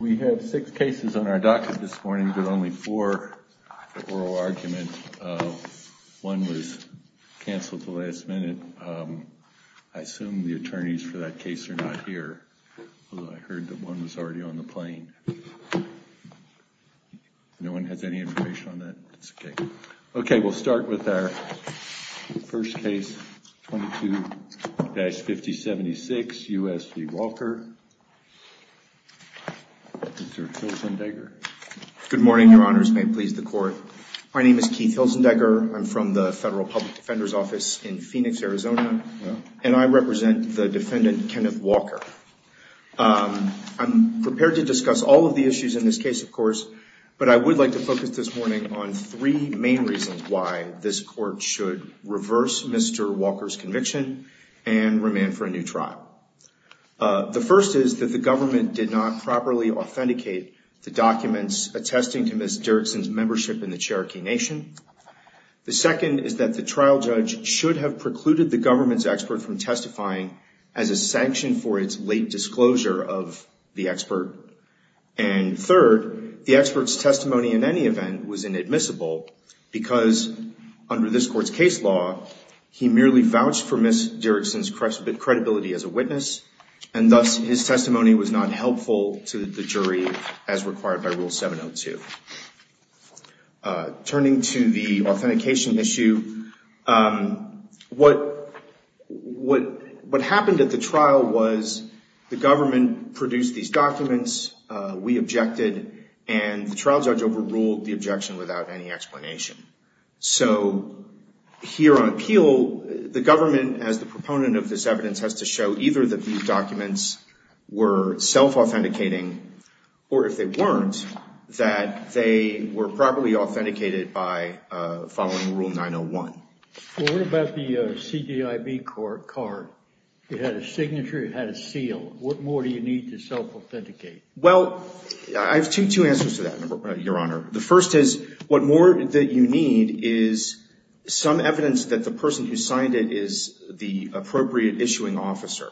We have six cases on our docket this morning, but only four oral arguments. One was canceled at the last minute. I assume the attorneys for that case are not here, although I heard that one was already on the plane. No one has any information on that? It's okay. Okay. We'll start with our first case, 22-5076 U.S. v. Walker. Mr. Hilzendegger. Good morning, your honors. May it please the court. My name is Keith Hilzendegger. I'm from the Federal Public Defender's Office in Phoenix, Arizona, and I represent the defendant, Kenneth Walker. I'm prepared to discuss all of the issues in this case, of course, but I would like to focus this morning on three main reasons why this court should reverse Mr. Walker's conviction and remand for a new trial. The first is that the government did not properly authenticate the documents attesting to Ms. Dirickson's membership in the Cherokee Nation. The second is that the trial judge should have precluded the government's expert from testifying as a sanction for its late disclosure of the expert. And third, the expert's testimony in any event was inadmissible because under this court's case law, he merely vouched for Ms. Dirickson as a witness, and thus his testimony was not helpful to the jury as required by Rule 702. Turning to the authentication issue, what happened at the trial was the government produced these documents, we objected, and the trial judge overruled the objection without any explanation. So here on appeal, the government as the proponent of this evidence has to show either that these documents were self-authenticating, or if they weren't, that they were properly authenticated by following Rule 901. Well, what about the CDIB card? It had a signature, it had a seal. What more do you need to self-authenticate? Well, I have two answers to that, Your Honor. The first is what more that you need is some evidence that the person who signed it is the appropriate issuing officer.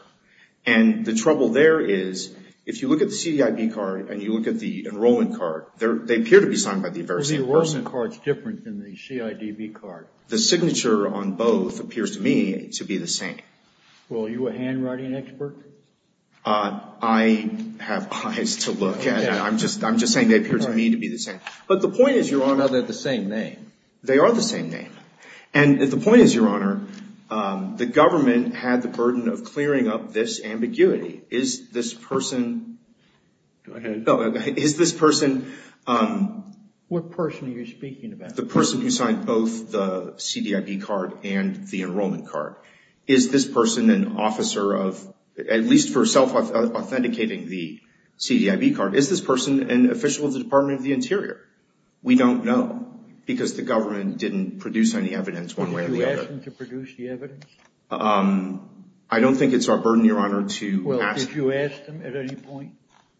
And the trouble there is, if you look at the CDIB card and you look at the enrollment card, they appear to be signed by the very same person. The enrollment card's different than the CIDB card. The signature on both appears to me to be the same. Well, are you a handwriting expert? I have eyes to look at. I'm just saying they appear to me to be the same. But the point is, Your Honor. Well, they're the same name. They are the same name. And the point is, Your Honor, the government had the burden of clearing up this ambiguity. Is this person... Go ahead. Is this person... What person are you speaking about? The person who signed both the CDIB card and the enrollment card. Is this person an officer of, at least for self-authenticating the CDIB card, is this person an official of the Department of the Interior? We don't know, because the government didn't produce any evidence one way or the other. Did you ask them to produce the evidence? I don't think it's our burden, Your Honor, to ask. Well, did you ask them at any point?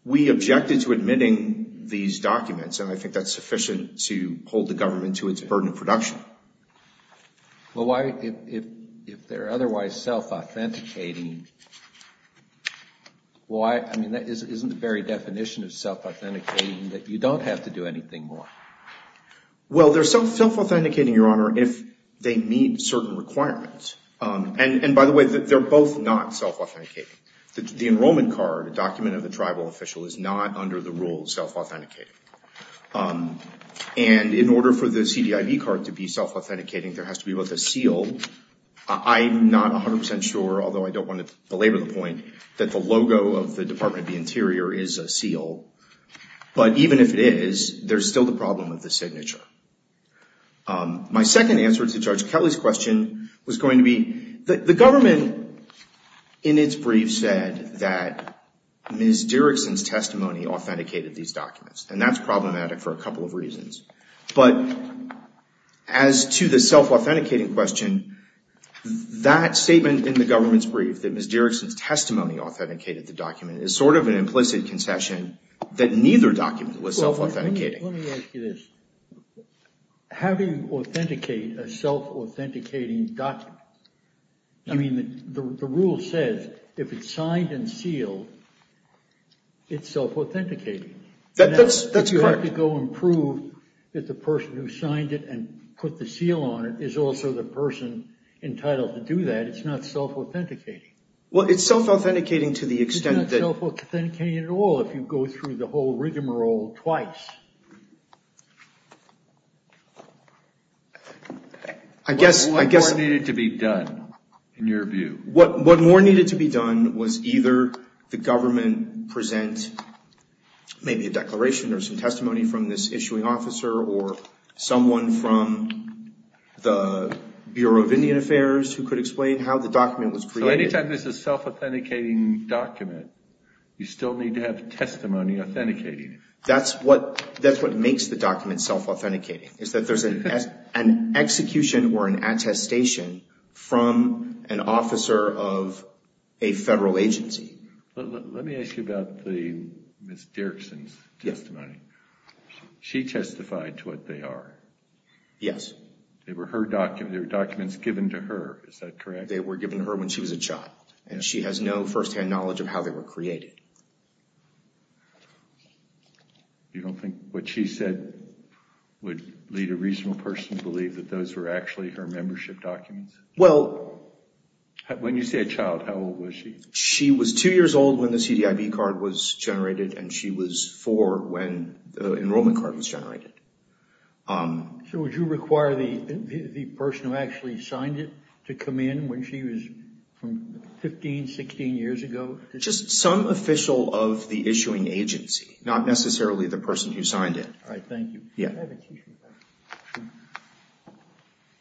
We objected to admitting these documents, and I think that's sufficient to hold the government to its burden of production. Well, why, if they're otherwise self-authenticating, why, I mean, that isn't the very definition of self-authenticating, that you don't have to do anything more. Well, they're self-authenticating, Your Honor, if they meet certain requirements. And by the way, they're both not self-authenticating. The enrollment card, a document of the tribal official, is not, under the rule, self-authenticating. And in order for the CDIB card to be self-authenticating, there has to be both a seal. I'm not 100 percent sure, although I don't want to belabor the point, that the logo of the Department of the Interior is a seal, but even if it is, there's still the problem with the signature. My second answer to Judge Kelly's question was going to be, the government, in its brief, said that Ms. Dirickson's testimony authenticated these documents, and that's problematic for a couple of reasons. But as to the self-authenticating question, that statement in the government's brief, that Ms. Dirickson's testimony authenticated the document, is sort of an implicit concession that neither document was self-authenticating. Well, let me ask you this. How do you authenticate a self-authenticating document? I mean, the rule says, if it's signed and sealed, it's self-authenticating. That's correct. You can't go and prove that the person who signed it and put the seal on it is also the person entitled to do that. It's not self-authenticating. Well, it's self-authenticating to the extent that... It's not self-authenticating at all if you go through the whole rigmarole twice. I guess... What more needed to be done, in your view? What more needed to be done was either the government present maybe a declaration or some testimony from this issuing officer or someone from the Bureau of Indian Affairs who could explain how the document was created. Anytime there's a self-authenticating document, you still need to have testimony authenticating it. That's what makes the document self-authenticating, is that there's an execution or an attestation from an officer of a federal agency. Let me ask you about the Ms. Dirksen's testimony. She testified to what they are. Yes. They were documents given to her. Is that correct? They were given to her when she was a child, and she has no first-hand knowledge of how they were created. You don't think what she said would lead a reasonable person to believe that those were actually her membership documents? Well... When you say a child, how old was she? She was two years old when the CDIB card was generated, and she was four when the enrollment card was generated. So would you require the person who actually signed it to come in when she was from 15, 16 years ago? Just some official of the issuing agency, not necessarily the person who signed it. All right. Thank you. Yeah.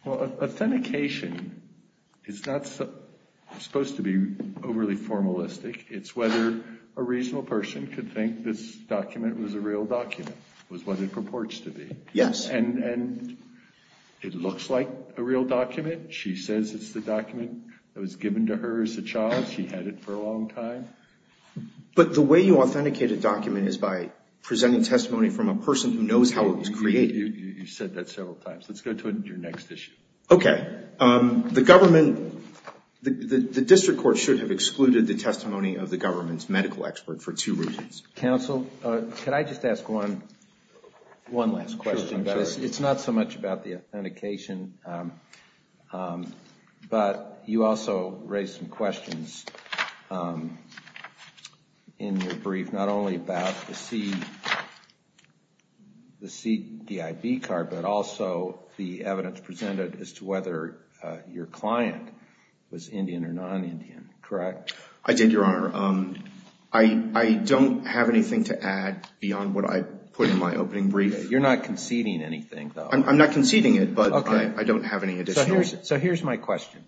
Well, authentication is not supposed to be overly formalistic. It's whether a reasonable person could think this document was a real document, was what it purports to be. Yes. And it looks like a real document. She says it's the document that was given to her as a child. She had it for a long time. But the way you authenticate a document is by presenting testimony from a person who knows how it was created. You said that several times. Let's go to your next issue. Okay. The government, the district court should have excluded the testimony of the government's medical expert for two reasons. Counsel, could I just ask one last question? It's not so much about the authentication, but you also raised some questions in your brief, not only about the CDIB card, but also the evidence presented as to whether your client was Indian or non-Indian, correct? I did, Your Honor. I don't have anything to add beyond what I put in my opening brief. You're not conceding anything, though. I'm not conceding it, but I don't have any additional. So here's my question.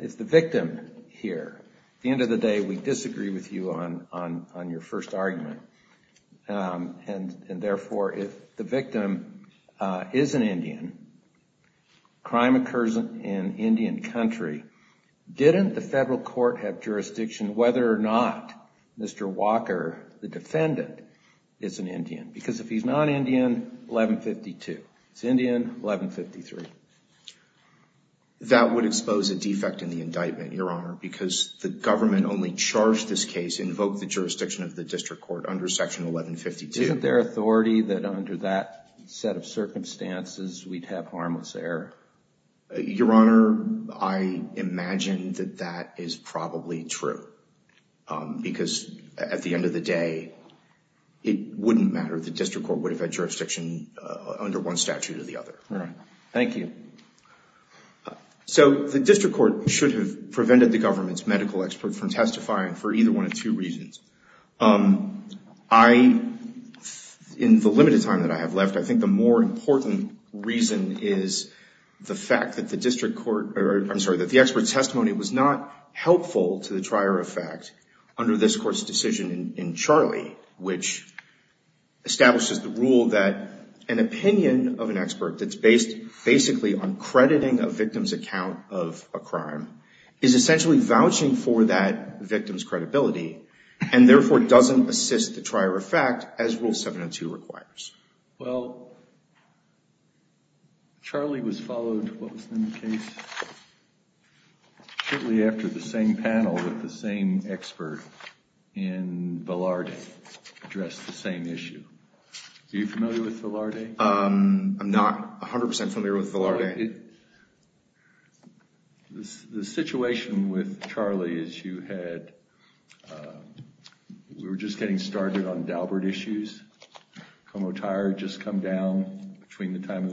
If the victim here, at the end of the day, we disagree with you on your first argument, and therefore, if the victim is an Indian, crime occurs in Indian country, didn't the federal court have jurisdiction whether or not Mr. Walker, the defendant, is an Indian? Because if he's non-Indian, 1152. If he's Indian, 1153. That would expose a defect in the indictment, Your Honor, because the government only charged this case, invoked the jurisdiction of the district court under section 1152. Isn't there authority that under that set of circumstances, we'd have harmless error? Your Honor, I imagine that that is probably true, because at the end of the day, it wouldn't matter. The district court would have had jurisdiction under one statute or the other. All right. Thank you. So the district court should have prevented the government's medical expert from testifying for either one of two reasons. In the limited time that I have left, I think the more important reason is the fact that the district court, or I'm sorry, that the expert testimony was not helpful to the trier of fact under this court's decision in Charlie, which establishes the rule that an opinion of an expert that's based basically on crediting a victim's account of a crime is essentially vouching for that victim's credibility and therefore, doesn't assist the trier of fact as Rule 702 requires. Well, Charlie was followed, what was the name of the case, shortly after the same panel with the same expert in Velarde addressed the same issue. Are you familiar with Velarde? I'm not a hundred percent familiar with Velarde. The situation with Charlie is you had, we were just getting started on the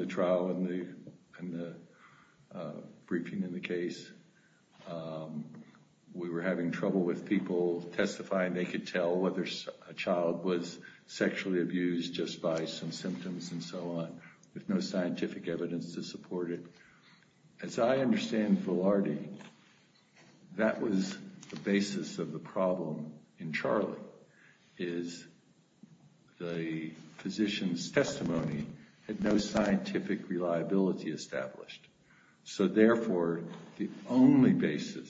trial, we were having trouble with people testifying. They could tell whether a child was sexually abused just by some symptoms and so on, with no scientific evidence to support it. As I understand Velarde, that was the basis of the problem in Charlie, is the physician's testimony had no scientific reliability established. So therefore, the only basis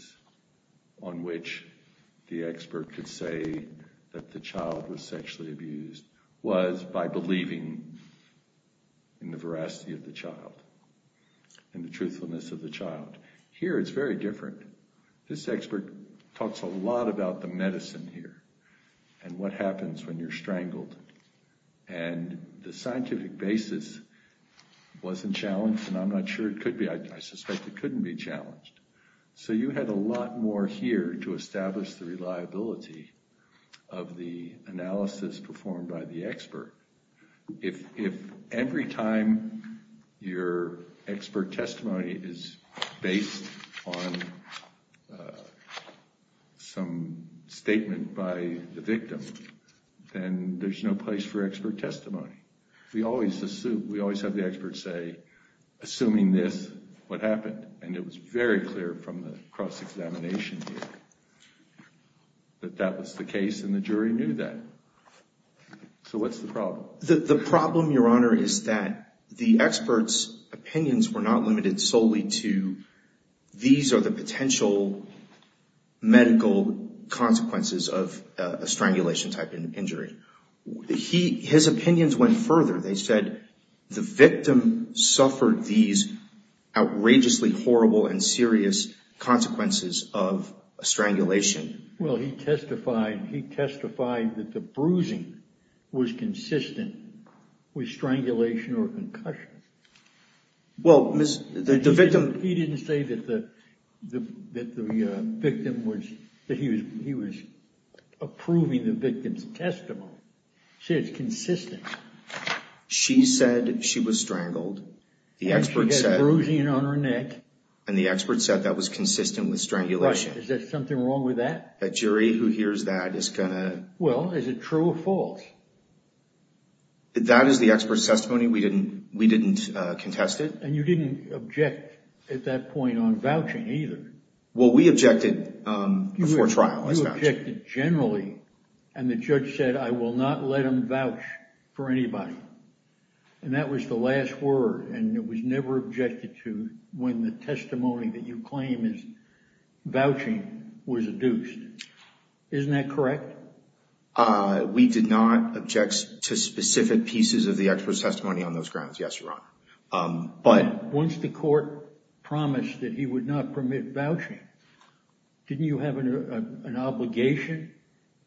on which the expert could say that the child was sexually abused was by believing in the veracity of the child, in the truthfulness of the child. Here it's very different. This expert talks a lot about the medicine here, and what happens when you're strangled. And the scientific basis wasn't challenged, and I'm not sure it could be. I suspect it couldn't be challenged. So you had a lot more here to establish the reliability of the analysis performed by the expert. If every time your expert testimony is based on some statement by the victim, then there's no place for expert testimony. We always have the experts say, assuming this, what happened? And it was very clear from the cross-examination here that that was the case and the jury knew that. So what's the problem? The problem, Your Honor, is that the expert's opinions were not limited solely to these are the potential medical consequences of a strangulation-type injury. His opinions went further. They said the victim suffered these outrageously horrible and serious consequences of a strangulation. Well, he testified that the bruising was consistent with strangulation or concussion. Well, the victim... He didn't say that the victim was... that he was approving the victim's testimony. He said it's consistent. She said she was strangled. The expert said... And she had bruising on her neck. And the expert said that was consistent with strangulation. Is there something wrong with that? That jury who hears that is going to... Well, is it true or false? That is the expert's testimony. We didn't contest it. And you didn't object at that point on vouching either. Well, we objected before trial. You objected generally. And the judge said, I will not let him vouch for anybody. And that was the last word. And it was never objected to when the testimony that you claim is vouching was adduced. Isn't that correct? We did not object to specific pieces of the expert's testimony on those grounds, yes, Your Honor. But... Once the court promised that he would not permit vouching, didn't you have an obligation,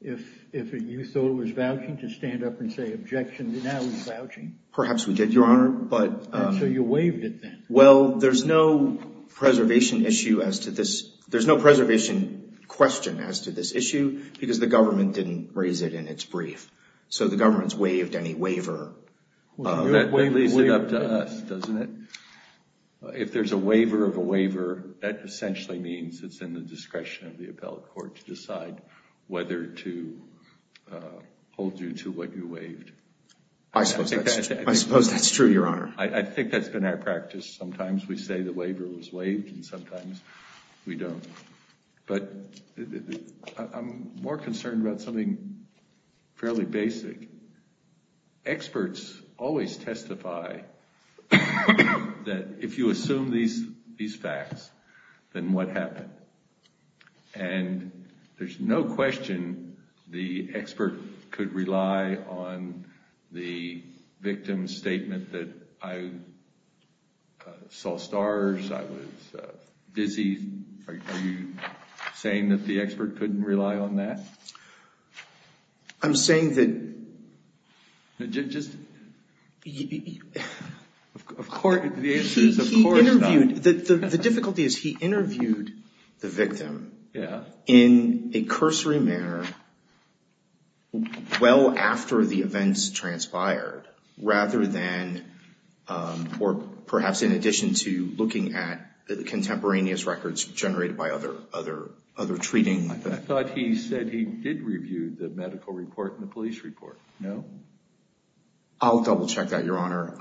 if you thought it was vouching, to stand up and say, objection, now he's vouching? Perhaps we did, Your Honor, but... And so you waived it then. Well, there's no preservation issue as to this... There's no preservation question as to this issue because the government didn't raise it in its brief. So the government's waived any waiver. That leaves it up to us, doesn't it? If there's a waiver of a waiver, that essentially means it's in the discretion of the appellate court to decide whether to hold you to what you waived. I suppose that's true, Your Honor. I think that's been our practice. Sometimes we say the waiver was waived and sometimes we don't. But I'm more concerned about something fairly basic. Experts always testify that if you assume these facts, then what happened? And there's no question the expert could rely on the victim's statement that I saw stars, I was dizzy. Are you saying that the expert couldn't rely on that? I'm saying that... Just... Of course, the answer is of course not. The difficulty is he interviewed the victim in a cursory manner well after the events transpired rather than, or perhaps in addition to, looking at the contemporaneous records generated by other treating. I thought he said he did review the medical report and the police report. No? I'll double check that, Your Honor,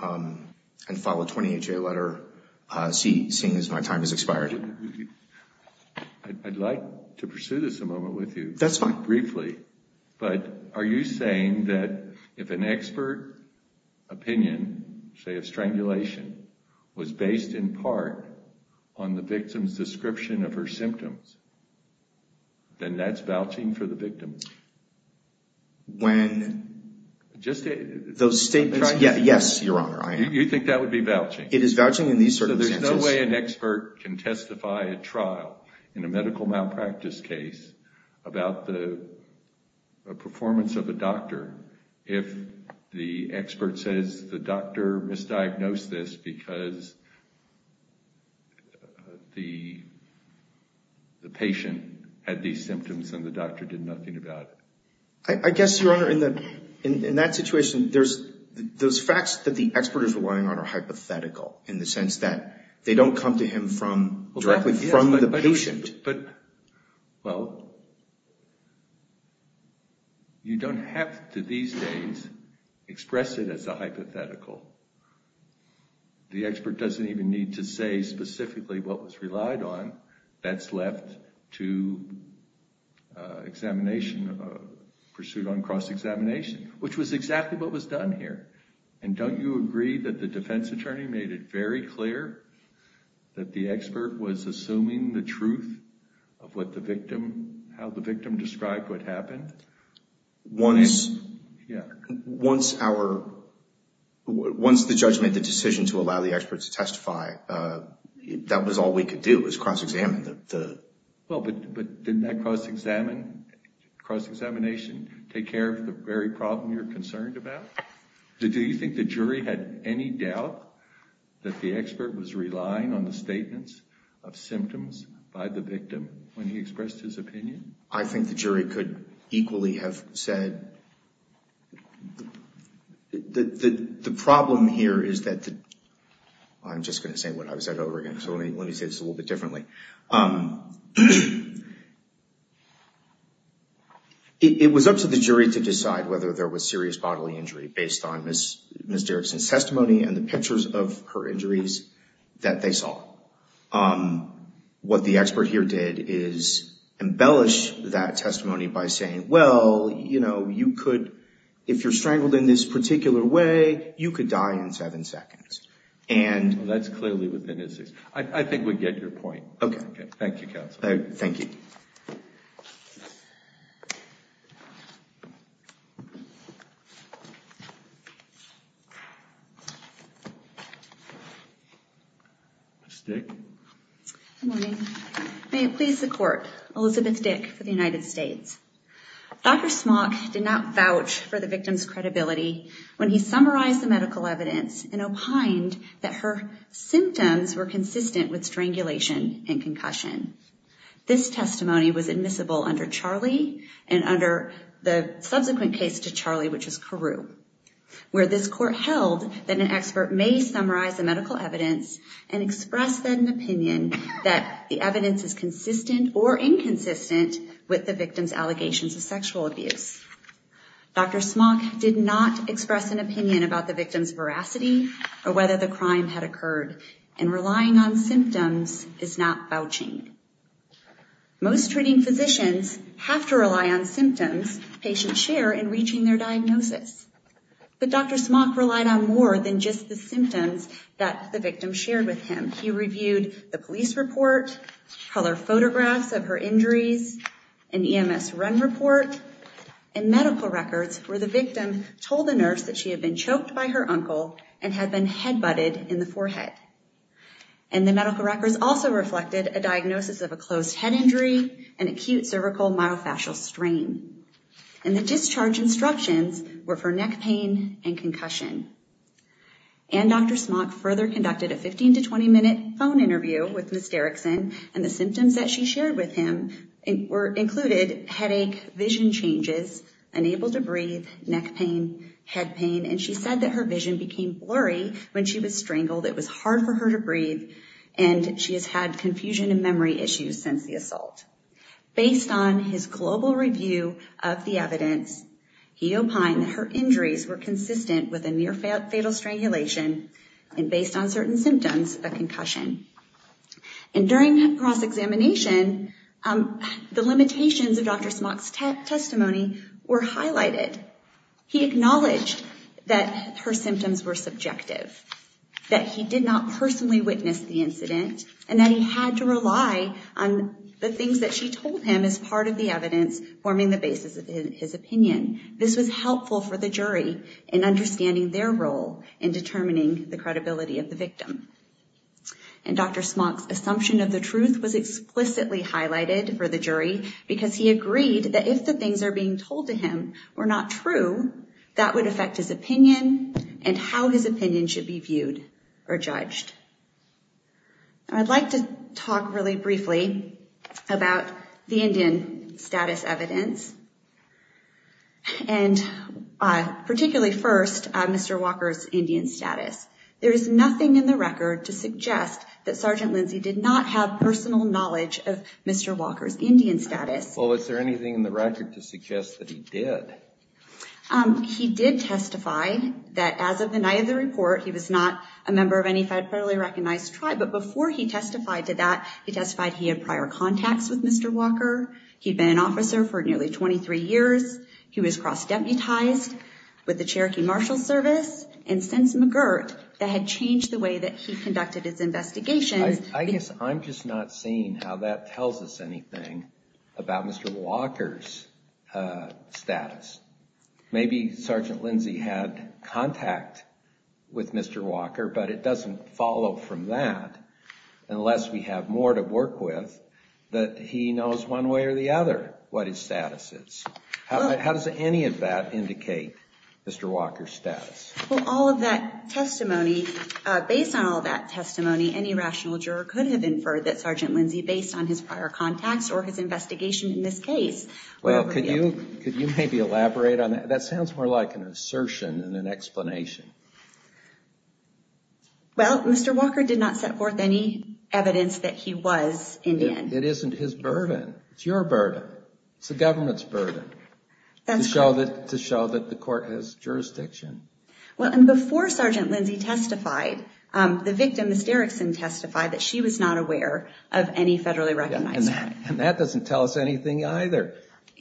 and file a 20HA letter seeing as my time has expired. I'd like to pursue this a moment with you. That's fine. Briefly. But are you saying that if an expert opinion, say of strangulation, was based in part on the victim's description of her symptoms, then that's vouching for the victim? When... Just... Those statements, yes, Your Honor, I am. You think that would be vouching? It is vouching in these circumstances. So there's no way an expert can testify at trial in a medical malpractice case about the performance of a doctor if the expert says the doctor misdiagnosed this because the patient had these symptoms and the doctor did nothing about it. I guess, Your Honor, in that situation, there's facts that the expert is relying on are hypothetical in the sense that they don't come to him directly from the patient. But, well, you don't have to these days express it as a hypothetical. The expert doesn't even need to say specifically what was relied on. That's left to examination, pursuit on cross-examination, which was exactly what was done here. And don't you agree that the defense attorney made it very clear that the expert was assuming the truth of what the victim, how the victim described what happened? Once our, once the judge made the decision to allow the expert to testify, that was all we could do is cross-examine the. Well, but didn't that cross-examination take care of the very problem you're concerned about? Do you think the jury had any doubt that the expert was relying on the statements of symptoms by the victim when he expressed his opinion? I think the jury could equally have said that the problem here is that the, I'm just gonna say what I was at over again, so let me say this a little bit differently. It was up to the jury to decide whether there was serious bodily injury based on Ms. Derrickson's testimony and the pictures of her injuries that they saw. What the expert here did is embellish that testimony by saying, well, you know, you could, if you're strangled in this particular way, you could die in seven seconds. And. Well, that's clearly within his, I think we get your point. Okay. Thank you, counsel. Thank you. Ms. Dick. Good morning. May it please the court, Elizabeth Dick for the United States. Dr. Smock did not vouch for the victim's credibility when he summarized the medical evidence and opined that her symptoms were consistent with strangulation and concussion. This testimony was admissible under Charlie and under the subsequent case to Charlie, which is Carew, where this court held that an expert may summarize the medical evidence and express an opinion that the evidence is consistent or inconsistent with the victim's allegations of sexual abuse. Dr. Smock did not express an opinion about the victim's veracity or whether the crime had occurred and relying on symptoms is not vouching. Most treating physicians have to rely on symptoms patients share in reaching their diagnosis. But Dr. Smock relied on more than just the symptoms that the victim shared with him. He reviewed the police report, color photographs of her injuries, an EMS run report, and medical records where the victim told the nurse that she had been choked by her uncle and had been head butted in the forehead. And the medical records also reflected a diagnosis of a closed head injury and acute cervical myofascial strain. And the discharge instructions were for neck pain and concussion. And Dr. Smock further conducted a 15 to 20 minute phone interview with Ms. Derrickson and the symptoms that she shared with him were included headache, vision changes, unable to breathe, neck pain, head pain. And she said that her vision became blurry when she was strangled. It was hard for her to breathe and she has had confusion and memory issues since the assault. Based on his global review of the evidence, he opined that her injuries were consistent with a near fatal strangulation and based on certain symptoms, a concussion. And during cross-examination, the limitations of Dr. Smock's testimony were highlighted. He acknowledged that her symptoms were subjective, that he did not personally witness the incident and that he had to rely on the things that she told him as part of the evidence forming the basis of his opinion. This was helpful for the jury in understanding their role in determining the credibility of the victim. And Dr. Smock's assumption of the truth was explicitly highlighted for the jury because he agreed that if the things are being told to him were not true, that would affect his opinion and how his opinion should be viewed or judged. I'd like to talk really briefly about the Indian status evidence and particularly first, Mr. Walker's Indian status. There is nothing in the record to suggest that Sergeant Lindsey did not have personal knowledge of Mr. Walker's Indian status. Well, is there anything in the record to suggest that he did? He did testify that as of the night of the report, he was not a member of any federally recognized tribe, but before he testified to that, he testified he had prior contacts with Mr. Walker, he'd been an officer for nearly 23 years, he was cross-deputized with the Cherokee Marshal Service and since McGirt, that had changed the way that he conducted his investigations. I guess I'm just not seeing how that tells us anything about Mr. Walker's status. Maybe Sergeant Lindsey had contact with Mr. Walker, but it doesn't follow from that unless we have more to work with that he knows one way or the other what his status is. How does any of that indicate Mr. Walker's status? Well, all of that testimony, based on all that testimony, any rational juror could have inferred that Sergeant Lindsey based on his prior contacts or his investigation in this case. Well, could you maybe elaborate on that? That sounds more like an assertion than an explanation. Well, Mr. Walker did not set forth any evidence that he was Indian. It isn't his burden, it's your burden. It's the government's burden. That's correct. To show that the court has jurisdiction. Well, and before Sergeant Lindsey testified, the victim, Ms. Derrickson testified that she was not aware of any federally recognized tribe. And that doesn't tell us anything either.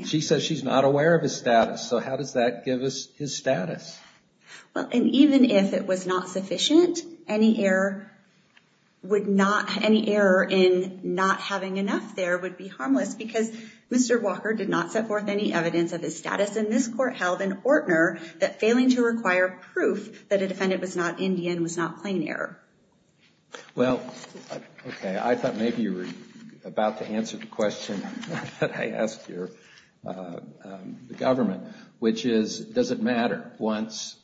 She says she's not aware of his status. So how does that give us his status? Well, and even if it was not sufficient, any error in not having enough there would be harmless because Mr. Walker did not set forth any evidence of his status and this court held in Ortner that failing to require proof that a defendant was not Indian was not plain error. Well, okay, I thought maybe you were about to answer the question that I asked here, the government, which is, does it matter once,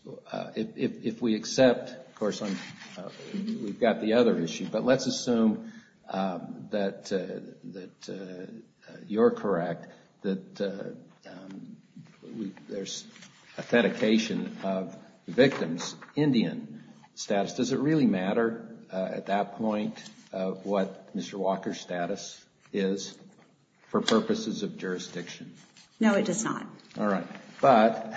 if we accept, of course, we've got the other issue, but let's assume that you're correct, that there's authentication of the victim's Indian status. Does it really matter at that point what Mr. Walker's status is for purposes of jurisdiction? No, it does not. All right, but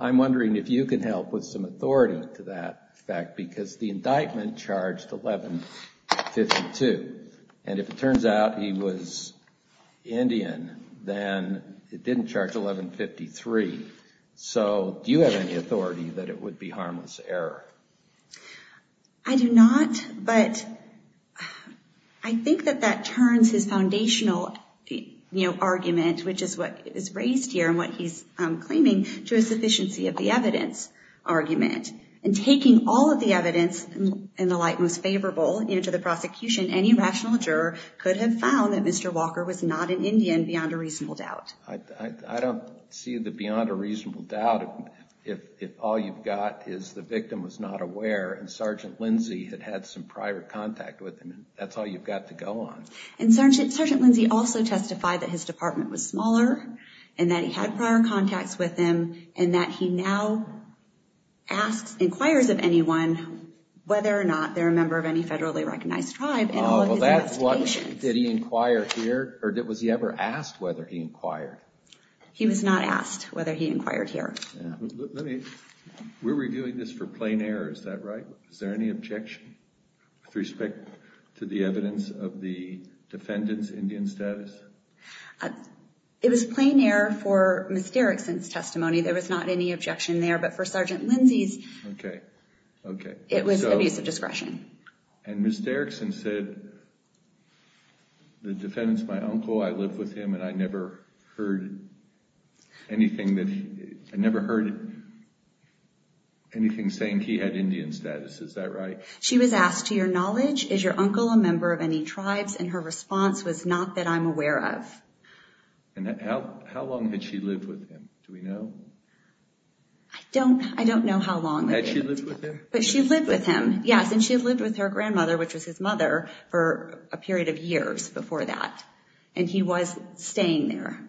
I'm wondering if you can help with some authority to that fact because the indictment charged 1152. And if it turns out he was Indian, then it didn't charge 1153. So do you have any authority that it would be harmless error? I do not, but I think that that turns his foundational argument, which is what is raised here and what he's claiming, to a sufficiency of the evidence argument. And taking all of the evidence in the light most favorable into the prosecution, any rational juror could have found that Mr. Walker was not an Indian beyond a reasonable doubt. I don't see the beyond a reasonable doubt if all you've got is the victim was not aware and Sergeant Lindsey had had some prior contact with him. That's all you've got to go on. And Sergeant Lindsey also testified that his department was smaller and that he had prior contacts with him and that he now inquires of anyone whether or not they're a member of any federally recognized tribe in all of his investigations. Did he inquire here? Or was he ever asked whether he inquired? He was not asked whether he inquired here. We're reviewing this for plain error. Is that right? Is there any objection with respect to the evidence of the defendant's Indian status? It was plain error for Ms. Derrickson's testimony. There was not any objection there, but for Sergeant Lindsey's, it was abuse of discretion. And Ms. Derrickson said the defendant's my uncle, I lived with him, and I never heard anything that he, I never heard anything saying he had Indian status. Is that right? She was asked, to your knowledge, is your uncle a member of any tribes? And her response was, not that I'm aware of. And how long had she lived with him? Do we know? I don't, I don't know how long. Had she lived with him? But she lived with him, yes. And she had lived with her grandmother, which was his mother, for a period of years before that. And he was staying there.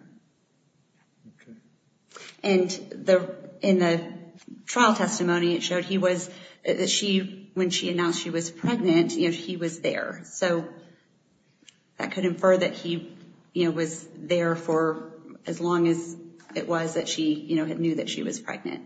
And in the trial testimony, it showed he was, that she, when she announced she was pregnant, you know, he was there. So that could infer that he, you know, was there for as long as it was that she, you know, had knew that she was pregnant.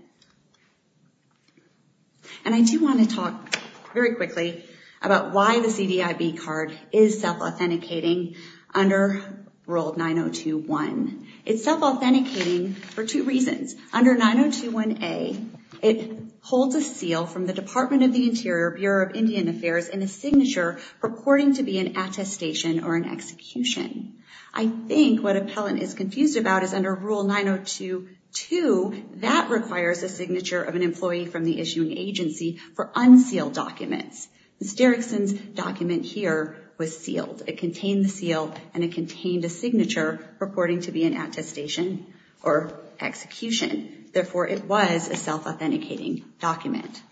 And I do want to talk very quickly about why the CDIB card is self-authenticating under Rule 902.1. It's self-authenticating for two reasons. Under 902.1a, it holds a seal from the Department of the Interior, Bureau of Indian Affairs, and a signature purporting to be an attestation or an execution. I think what Appellant is confused about is under Rule 902.2, that requires a signature of an employee from the issuing agency for unsealed documents. Ms. Derrickson's document here was sealed. It contained the seal and it contained a signature purporting to be an attestation or execution. Therefore, it was a self-authenticating document.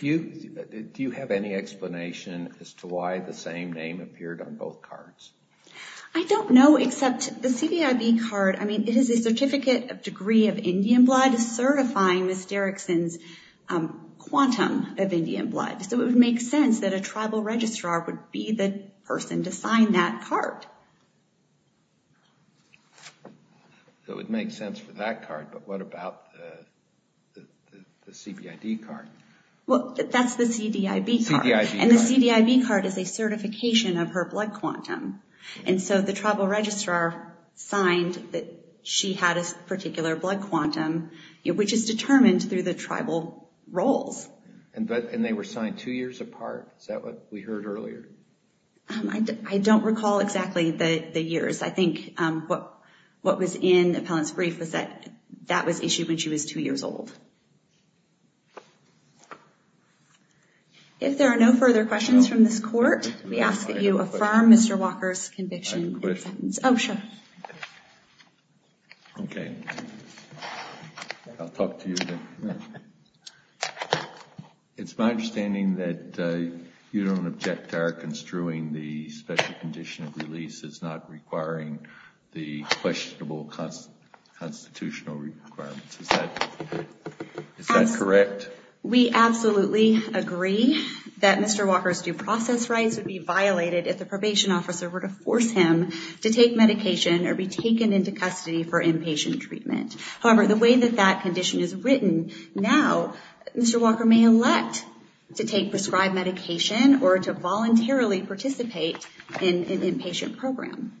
Do you have any explanation as to why the same name appeared on both cards? I don't know except the CDIB card, I mean, it is a certificate of degree of Indian blood certifying Ms. Derrickson's quantum of Indian blood. So it would make sense that a tribal registrar would be the person to sign that card. So it would make sense for that card, but what about the CBID card? Well, that's the CDIB card. And the CDIB card is a certification of her blood quantum. And so the tribal registrar signed that she had a particular blood quantum, which is determined through the tribal roles. And they were signed two years apart? Is that what we heard earlier? I don't recall exactly the years. I think what was in the appellant's brief was that that was issued when she was two years old. If there are no further questions from this court, we ask that you affirm Mr. Walker's conviction. I have a question. Oh, sure. Okay. I'll talk to you then. Go ahead. It's my understanding that you don't object to our construing the special condition of release as not requiring the questionable constitutional requirements. Is that correct? We absolutely agree that Mr. Walker's due process rights would be violated if the probation officer were to force him to take medication or be taken into custody for inpatient treatment. However, the way that that condition is written now, Mr. Walker may elect to take prescribed medication or to voluntarily participate in an inpatient program.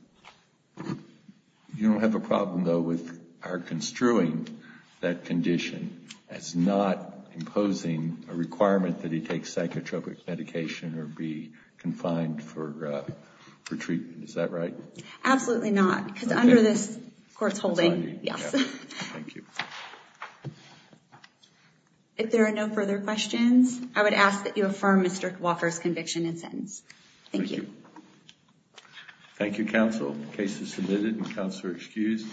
You don't have a problem though with our construing that condition as not imposing a requirement that he take psychotropic medication or be confined for treatment, is that right? Absolutely not. Because under this court's holding, yes. Thank you. If there are no further questions, I would ask that you affirm Mr. Walker's conviction and sentence. Thank you. Thank you, counsel. Case is submitted and counsel are excused.